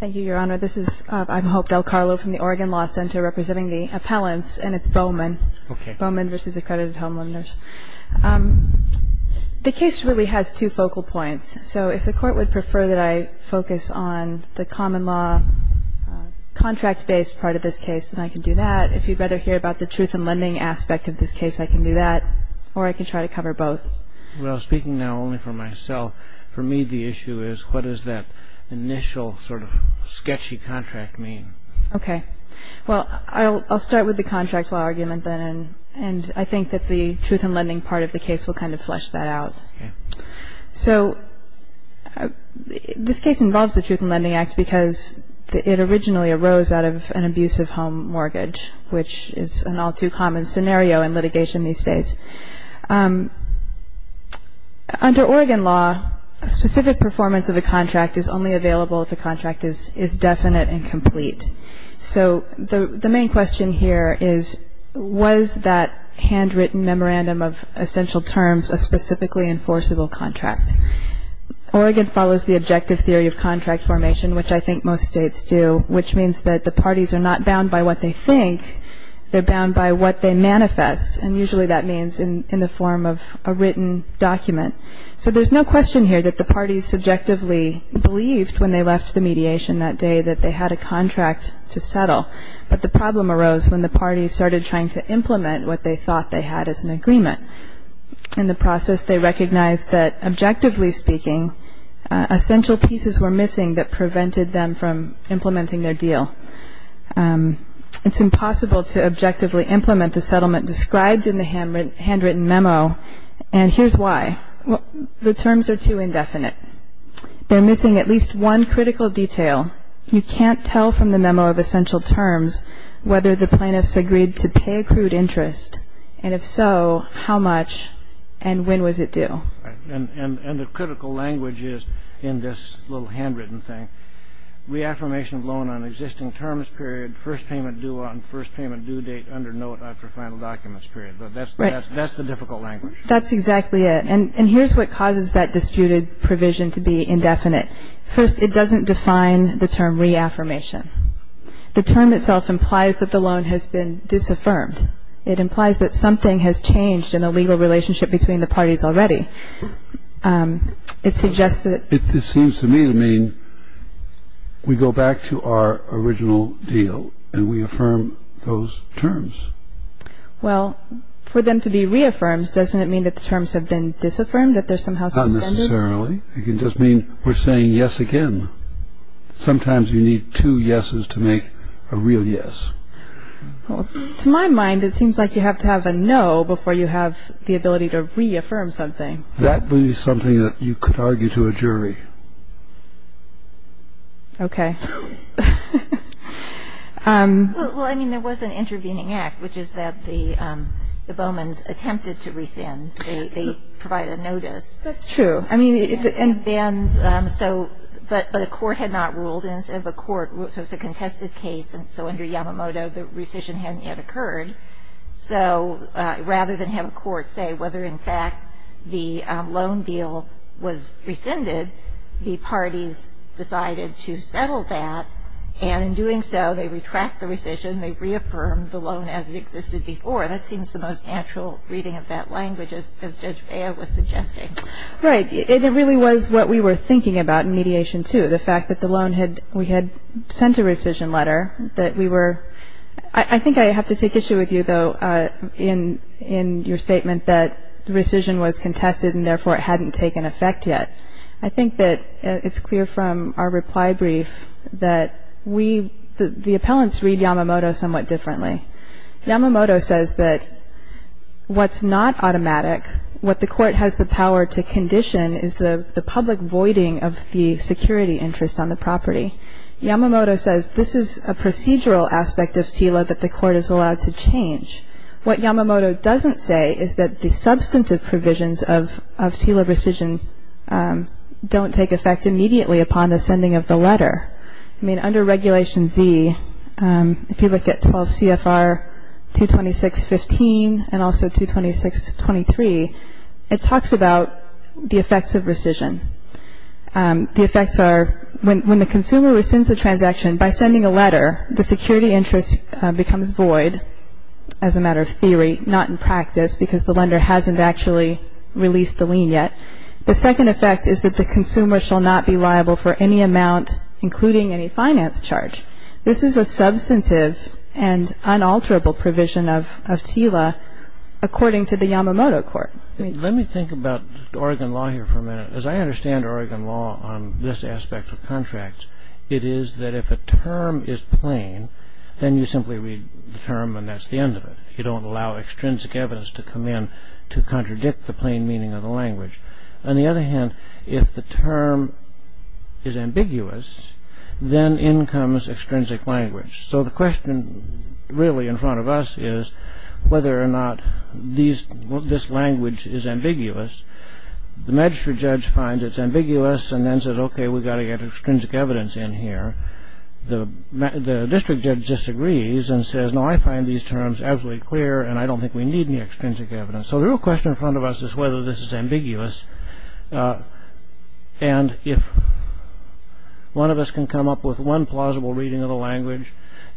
Thank you, Your Honor. I'm Hope Del Carlo from the Oregon Law Center, representing the appellants, and it's Bowman v. Accredited Home Lenders. The case really has two focal points. So if the Court would prefer that I focus on the common law, contract-based part of this case, then I can do that. If you'd rather hear about the truth-in-lending aspect of this case, I can do that, or I can try to cover both. Well, speaking now only for myself, for me the issue is what does that initial sort of sketchy contract mean? Okay. Well, I'll start with the contract law argument then, and I think that the truth-in-lending part of the case will kind of flesh that out. Okay. So this case involves the Truth-in-Lending Act because it originally arose out of an abusive home mortgage, which is an all-too-common scenario in litigation these days. Under Oregon law, a specific performance of a contract is only available if the contract is definite and complete. So the main question here is, was that handwritten memorandum of essential terms a specifically enforceable contract? Oregon follows the objective theory of contract formation, which I think most states do, which means that the parties are not bound by what they think, they're bound by what they manifest, and usually that means in the form of a written document. So there's no question here that the parties subjectively believed when they left the mediation that day that they had a contract to settle, but the problem arose when the parties started trying to implement what they thought they had as an agreement. In the process, they recognized that, objectively speaking, essential pieces were missing that prevented them from implementing their deal. It's impossible to objectively implement the settlement described in the handwritten memo, and here's why. The terms are too indefinite. They're missing at least one critical detail. You can't tell from the memo of essential terms whether the plaintiffs agreed to pay accrued interest, and if so, how much and when was it due. And the critical language is in this little handwritten thing, reaffirmation of loan on existing terms period, first payment due on first payment due date under note after final documents period. But that's the difficult language. That's exactly it. And here's what causes that disputed provision to be indefinite. First, it doesn't define the term reaffirmation. The term itself implies that the loan has been disaffirmed. It implies that something has changed in a legal relationship between the parties already. It suggests that- It seems to me to mean we go back to our original deal and we affirm those terms. Well, for them to be reaffirmed, doesn't it mean that the terms have been disaffirmed, that they're somehow suspended? Not necessarily. It can just mean we're saying yes again. Sometimes you need two yeses to make a real yes. Well, to my mind, it seems like you have to have a no before you have the ability to reaffirm something. That would be something that you could argue to a jury. Okay. Well, I mean, there was an intervening act, which is that the Bowmans attempted to rescind. They provided a notice. That's true. But a court had not ruled. So it's a contested case. And so under Yamamoto, the rescission hadn't yet occurred. So rather than have a court say whether, in fact, the loan deal was rescinded, the parties decided to settle that. And in doing so, they retract the rescission. They reaffirmed the loan as it existed before. That seems the most natural reading of that language, as Judge Bea was suggesting. Right. It really was what we were thinking about in mediation, too, the fact that the loan had – we had sent a rescission letter, that we were – I think I have to take issue with you, though, in your statement that rescission was contested and, therefore, it hadn't taken effect yet. I think that it's clear from our reply brief that we – the appellants read Yamamoto somewhat differently. Yamamoto says that what's not automatic, what the court has the power to condition, is the public voiding of the security interest on the property. Yamamoto says this is a procedural aspect of TILA that the court is allowed to change. What Yamamoto doesn't say is that the substantive provisions of TILA rescission don't take effect immediately upon the sending of the letter. I mean, under Regulation Z, if you look at 12 CFR 226.15 and also 226.23, it talks about the effects of rescission. The effects are when the consumer rescinds the transaction by sending a letter, the security interest becomes void as a matter of theory, not in practice, because the lender hasn't actually released the lien yet. The second effect is that the consumer shall not be liable for any amount, including any finance charge. This is a substantive and unalterable provision of TILA according to the Yamamoto court. Let me think about Oregon law here for a minute. As I understand Oregon law on this aspect of contracts, it is that if a term is plain, then you simply read the term and that's the end of it. You don't allow extrinsic evidence to come in to contradict the plain meaning of the language. On the other hand, if the term is ambiguous, then in comes extrinsic language. So the question really in front of us is whether or not this language is ambiguous. The magistrate judge finds it's ambiguous and then says, OK, we've got to get extrinsic evidence in here. The district judge disagrees and says, no, I find these terms absolutely clear, and I don't think we need any extrinsic evidence. So the real question in front of us is whether this is ambiguous. And if one of us can come up with one plausible reading of the language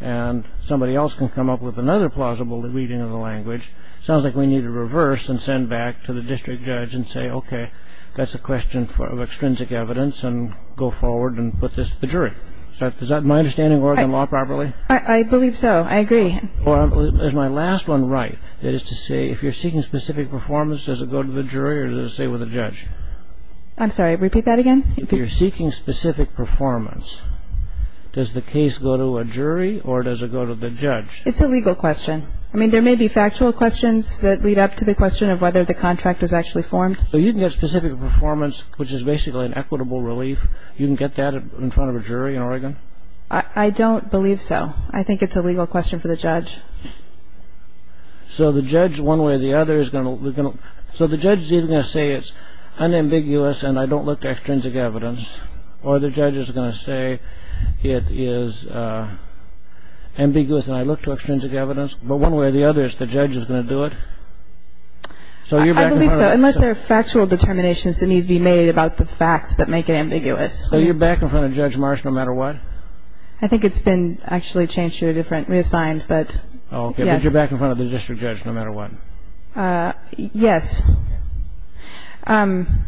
and somebody else can come up with another plausible reading of the language, it sounds like we need to reverse and send back to the district judge and say, OK, that's a question of extrinsic evidence and go forward and put this to the jury. Is that my understanding of Oregon law properly? I believe so. I agree. Is my last one right? That is to say, if you're seeking specific performance, does it go to the jury or does it stay with the judge? I'm sorry, repeat that again? If you're seeking specific performance, does the case go to a jury or does it go to the judge? It's a legal question. I mean, there may be factual questions that lead up to the question of whether the contract was actually formed. So you can get specific performance, which is basically an equitable relief. You can get that in front of a jury in Oregon? I don't believe so. I think it's a legal question for the judge. So the judge, one way or the other, is going to say it's unambiguous and I don't look to extrinsic evidence, or the judge is going to say it is ambiguous and I look to extrinsic evidence, but one way or the other, the judge is going to do it? I believe so, unless there are factual determinations that need to be made about the facts that make it ambiguous. So you're back in front of Judge Marsh no matter what? I think it's been actually changed to a different, reassigned, but yes. Okay, but you're back in front of the district judge no matter what? Yes. I'm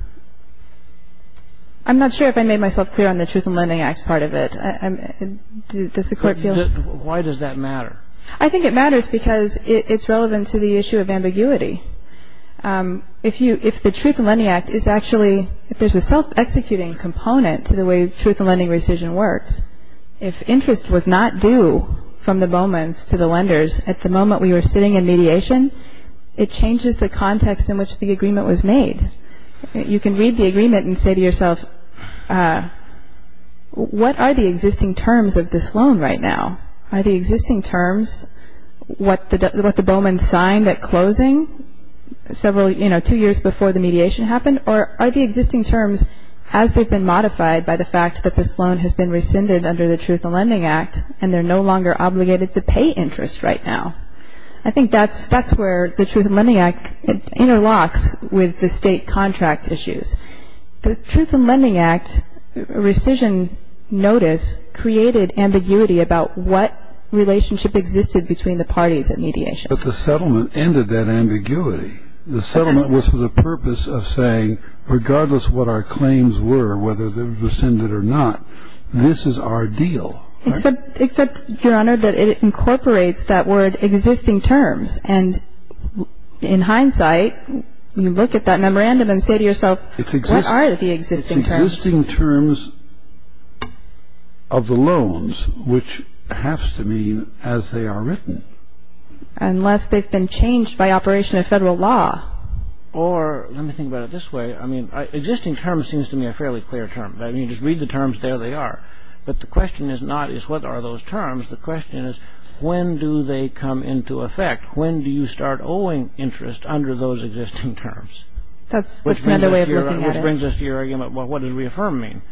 not sure if I made myself clear on the Truth in Lending Act part of it. Does the Court feel? Why does that matter? I think it matters because it's relevant to the issue of ambiguity. If the Truth in Lending Act is actually, if there's a self-executing component to the way truth in lending rescission works, if interest was not due from the Bowmans to the lenders at the moment we were sitting in mediation, it changes the context in which the agreement was made. You can read the agreement and say to yourself, what are the existing terms of this loan right now? Are the existing terms what the Bowmans signed at closing several, you know, two years before the mediation happened? Or are the existing terms as they've been modified by the fact that this loan has been rescinded under the Truth in Lending Act and they're no longer obligated to pay interest right now? I think that's where the Truth in Lending Act interlocks with the state contract issues. The Truth in Lending Act rescission notice created ambiguity about what relationship existed between the parties at mediation. But the settlement ended that ambiguity. The settlement was for the purpose of saying, regardless of what our claims were, whether they were rescinded or not, this is our deal. Except, Your Honor, that it incorporates that word existing terms. And in hindsight, you look at that memorandum and say to yourself, what are the existing terms? It's existing terms of the loans, which have to mean as they are written. Unless they've been changed by operation of federal law. Or, let me think about it this way, I mean, existing terms seems to me a fairly clear term. I mean, you just read the terms, there they are. But the question is not, is what are those terms? The question is, when do they come into effect? When do you start owing interest under those existing terms? That's another way of looking at it. Which brings us to your argument, well, what does reaffirm mean?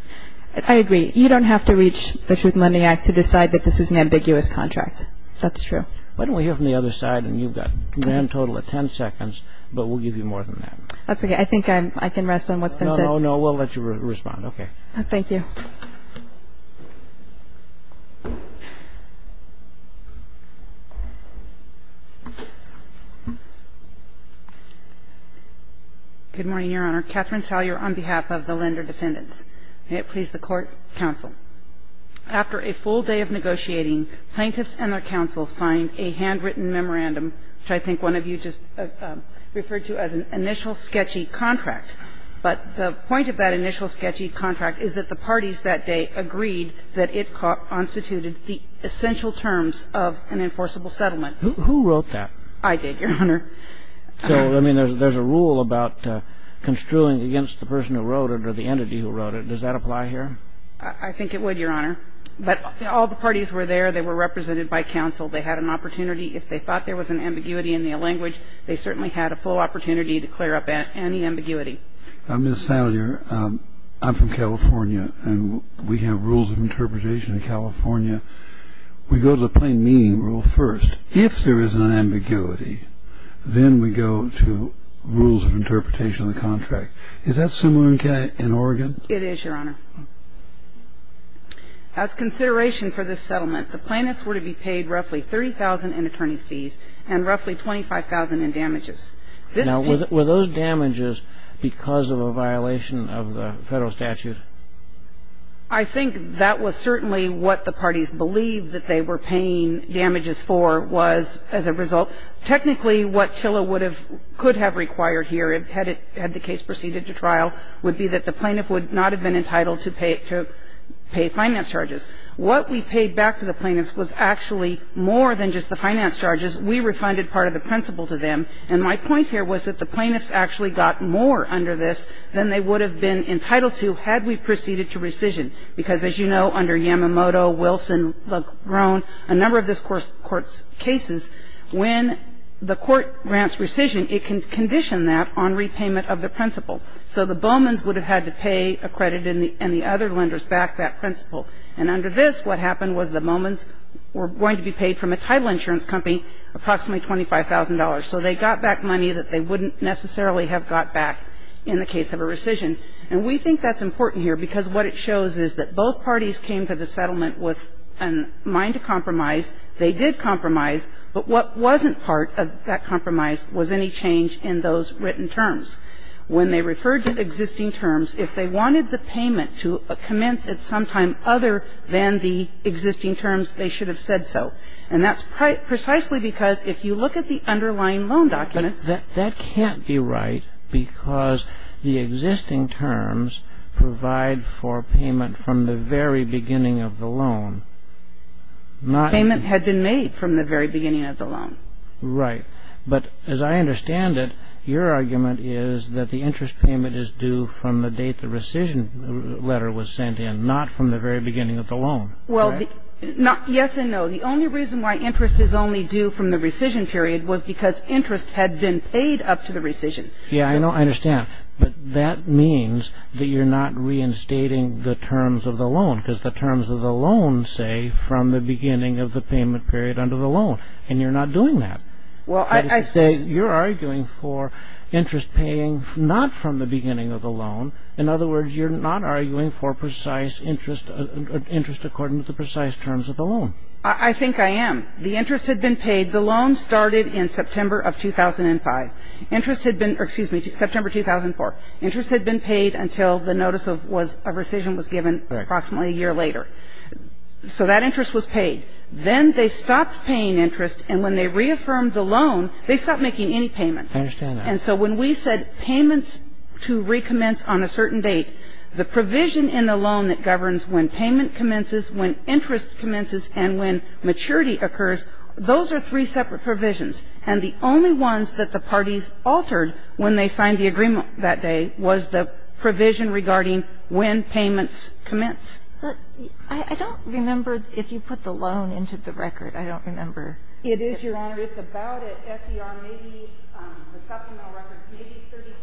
I agree. You don't have to reach the Truth in Lending Act to decide that this is an ambiguous contract. That's true. Why don't we hear from the other side? And you've got a grand total of 10 seconds, but we'll give you more than that. That's okay. I think I can rest on what's been said. No, no, no, we'll let you respond. Okay. Thank you. Good morning, Your Honor. Catherine Salyer on behalf of the Lender Defendants. May it please the Court, counsel. After a full day of negotiating, plaintiffs and their counsel signed a handwritten memorandum, which I think one of you just referred to as an initial sketchy contract. But the point of that initial sketchy contract is that the parties that day agreed that it constituted the essential terms of an enforceable settlement. Who wrote that? I did, Your Honor. So, I mean, there's a rule about construing against the person who wrote it or the entity who wrote it. Does that apply here? I think it would, Your Honor. But all the parties were there. They were represented by counsel. They had an opportunity. If they thought there was an ambiguity in their language, they certainly had a full opportunity to clear up any ambiguity. Ms. Salyer, I'm from California, and we have rules of interpretation in California. We go to the plain meaning rule first. If there is an ambiguity, then we go to rules of interpretation of the contract. Is that similar in Oregon? It is, Your Honor. As consideration for this settlement, the plaintiffs were to be paid roughly $30,000 in attorney's fees and roughly $25,000 in damages. Now, were those damages because of a violation of the Federal statute? I think that was certainly what the parties believed that they were paying damages for was as a result. Technically, what TILA could have required here, had the case proceeded to trial, would be that the plaintiff would not have been entitled to pay finance charges. What we paid back to the plaintiffs was actually more than just the finance charges. We refunded part of the principal to them, and my point here was that the plaintiffs actually got more under this than they would have been entitled to had we proceeded to rescission, because as you know, under Yamamoto, Wilson, Legrone, a number of this Court's cases, when the Court grants rescission, it can condition that on repayment of the principal. So the Bowmans would have had to pay a credit and the other lenders back that principal. And under this, what happened was the Bowmans were going to be paid from a TILA insurance company approximately $25,000. So they got back money that they wouldn't necessarily have got back in the case of a rescission. And we think that's important here because what it shows is that both parties came to the settlement with a mind to compromise. They did compromise. But what wasn't part of that compromise was any change in those written terms. And that's precisely because if you look at the underlying loan documents, if you look at the underlying loan documents, when they referred to existing terms, if they wanted the payment to commence at some time other than the existing terms, they should have said so. And that's precisely because if you look at the underlying loan documents that can't be right because the existing terms provide for payment from the very beginning of the loan. Payment had been made from the very beginning of the loan. Right. But as I understand it, your argument is that the interest payment is due from the date the rescission letter was sent in, not from the very beginning of the loan. Well, yes and no. The only reason why interest is only due from the rescission period was because interest had been paid up to the rescission. Yeah, I know. I understand. But that means that you're not reinstating the terms of the loan because the terms of the loan say from the beginning of the payment period under the loan. And you're not doing that. Well, I say you're arguing for interest paying not from the beginning of the loan. In other words, you're not arguing for precise interest according to the precise terms of the loan. I think I am. The interest had been paid. The loan started in September of 2005. Interest had been or excuse me, September 2004. Interest had been paid until the notice of rescission was given approximately a year later. So that interest was paid. Then they stopped paying interest. And when they reaffirmed the loan, they stopped making any payments. I understand that. And so when we said payments to recommence on a certain date, the provision in the loan that governs when payment commences, when interest commences, and when maturity occurs, those are three separate provisions. And the only ones that the parties altered when they signed the agreement that day was the provision regarding when payments commence. I don't remember if you put the loan into the record. I don't remember. It is, Your Honor. It's about at SER, maybe the supplemental record, maybe 32,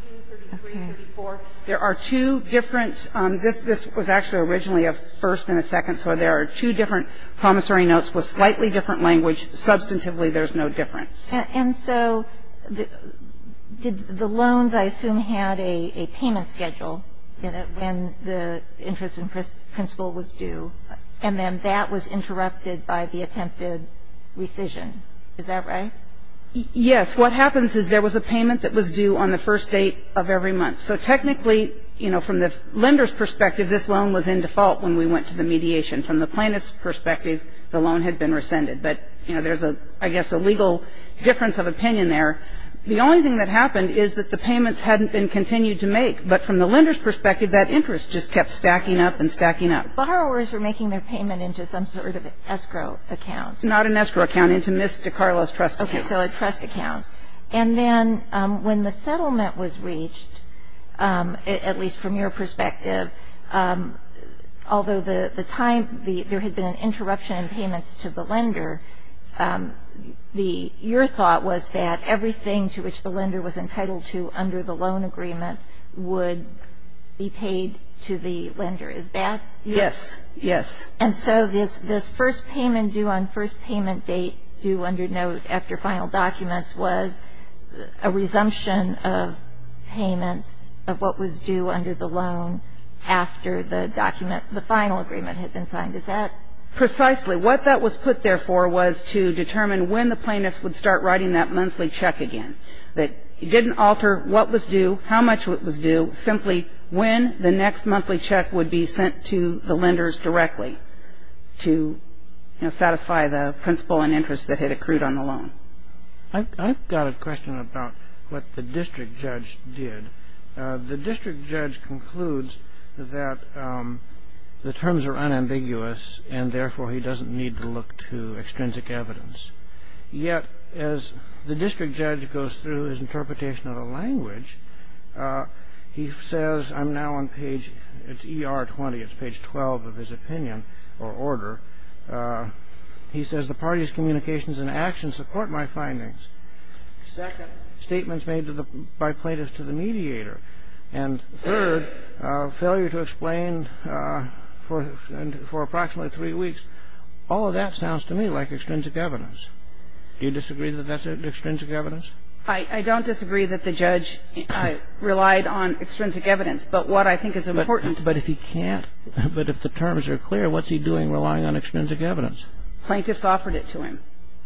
33, 34. There are two different this was actually originally a first and a second. So there are two different promissory notes with slightly different language. Substantively, there's no difference. And so did the loans, I assume, had a payment schedule when the interest in principle was due, and then that was interrupted by the attempted rescission. Is that right? Yes. What happens is there was a payment that was due on the first date of every month. So technically, you know, from the lender's perspective, this loan was in default when we went to the mediation. From the plaintiff's perspective, the loan had been rescinded. But, you know, there's a, I guess, a legal difference of opinion there. The only thing that happened is that the payments hadn't been continued to make. But from the lender's perspective, that interest just kept stacking up and stacking up. Borrowers were making their payment into some sort of escrow account. Not an escrow account. Into Ms. DeCarlo's trust account. Okay. So a trust account. And then when the settlement was reached, at least from your perspective, although the time, there had been an interruption in payments to the lender, your thought was that everything to which the lender was entitled to under the loan agreement would be paid to the lender. Is that correct? Yes. Yes. And so this first payment due on first payment date due under note after final documents was a resumption of payments of what was due under the loan after the document, the final agreement had been signed. Is that? Precisely. What that was put there for was to determine when the plaintiff would start writing that monthly check again. It didn't alter what was due, how much was due, simply when the next monthly check would be sent to the lenders directly to, you know, satisfy the principle and interest that had accrued on the loan. I've got a question about what the district judge did. The district judge concludes that the terms are unambiguous and therefore he doesn't need to look to extrinsic evidence. Yet as the district judge goes through his interpretation of the language, he says, I'm now on page, it's ER 20, it's page 12 of his opinion or order. He says the party's communications and actions support my findings. Second, statements made by plaintiffs to the mediator. And third, failure to explain for approximately three weeks. All of that sounds to me like extrinsic evidence. Do you disagree that that's extrinsic evidence? I don't disagree that the judge relied on extrinsic evidence, but what I think is important is that if he can't, but if the terms are clear, what's he doing relying on extrinsic evidence? Plaintiffs offered it to him.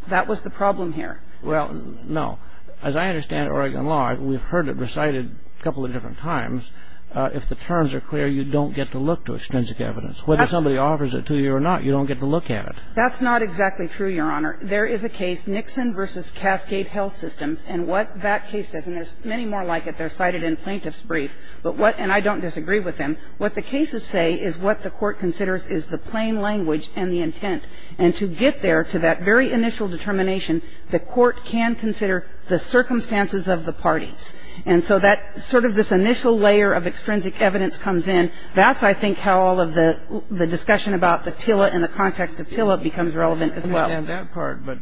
That was the problem here. Well, no. As I understand Oregon law, we've heard it recited a couple of different times, if the terms are clear, you don't get to look to extrinsic evidence. Whether somebody offers it to you or not, you don't get to look at it. That's not exactly true, Your Honor. There is a case, Nixon v. Cascade Health Systems, and what that case says, and there's many more like it, they're cited in plaintiff's brief, but what, and I don't disagree with them, what the cases say is what the Court considers is the plain language and the intent. And to get there to that very initial determination, the Court can consider the circumstances of the parties. And so that sort of this initial layer of extrinsic evidence comes in. That's, I think, how all of the discussion about the TILA and the context of TILA becomes relevant as well. I understand that part, but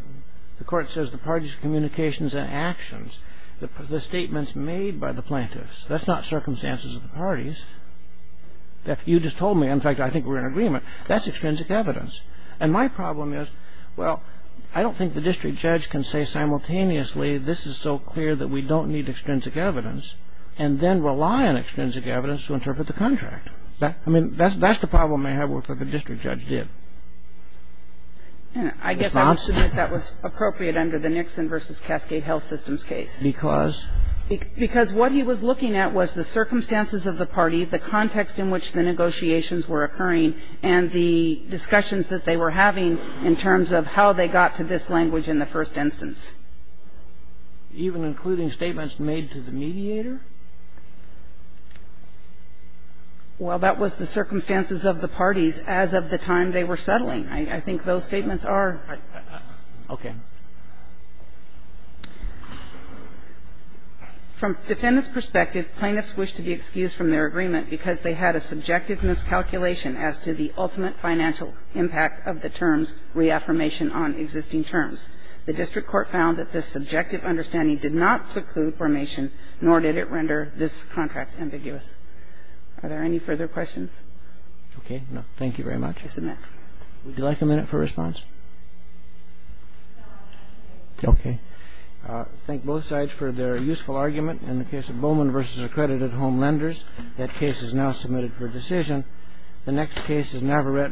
the Court says the parties' communications and actions, the statements made by the plaintiffs. That's not circumstances of the parties that you just told me. In fact, I think we're in agreement. That's extrinsic evidence. And my problem is, well, I don't think the district judge can say simultaneously this is so clear that we don't need extrinsic evidence and then rely on extrinsic evidence to interpret the contract. I mean, that's the problem I have with what the district judge did. It's not? I guess I would submit that was appropriate under the Nixon v. Cascade Health Systems case. Because? Because what he was looking at was the circumstances of the party, the context in which the negotiations were occurring, and the discussions that they were having in terms of how they got to this language in the first instance. Even including statements made to the mediator? Well, that was the circumstances of the parties as of the time they were settling. I think those statements are. Okay. Mr. Cronin. From defendants' perspective, plaintiffs wished to be excused from their agreement because they had a subjective miscalculation as to the ultimate financial impact of the terms reaffirmation on existing terms. The district court found that this subjective understanding did not preclude formation, nor did it render this contract ambiguous. Are there any further questions? Okay. Thank you very much. I submit. Would you like a minute for response? No, I'm okay. Okay. Thank both sides for their useful argument. In the case of Bowman v. Accredited Home Lenders, that case is now submitted for decision. The next case is Navarette v. Nike.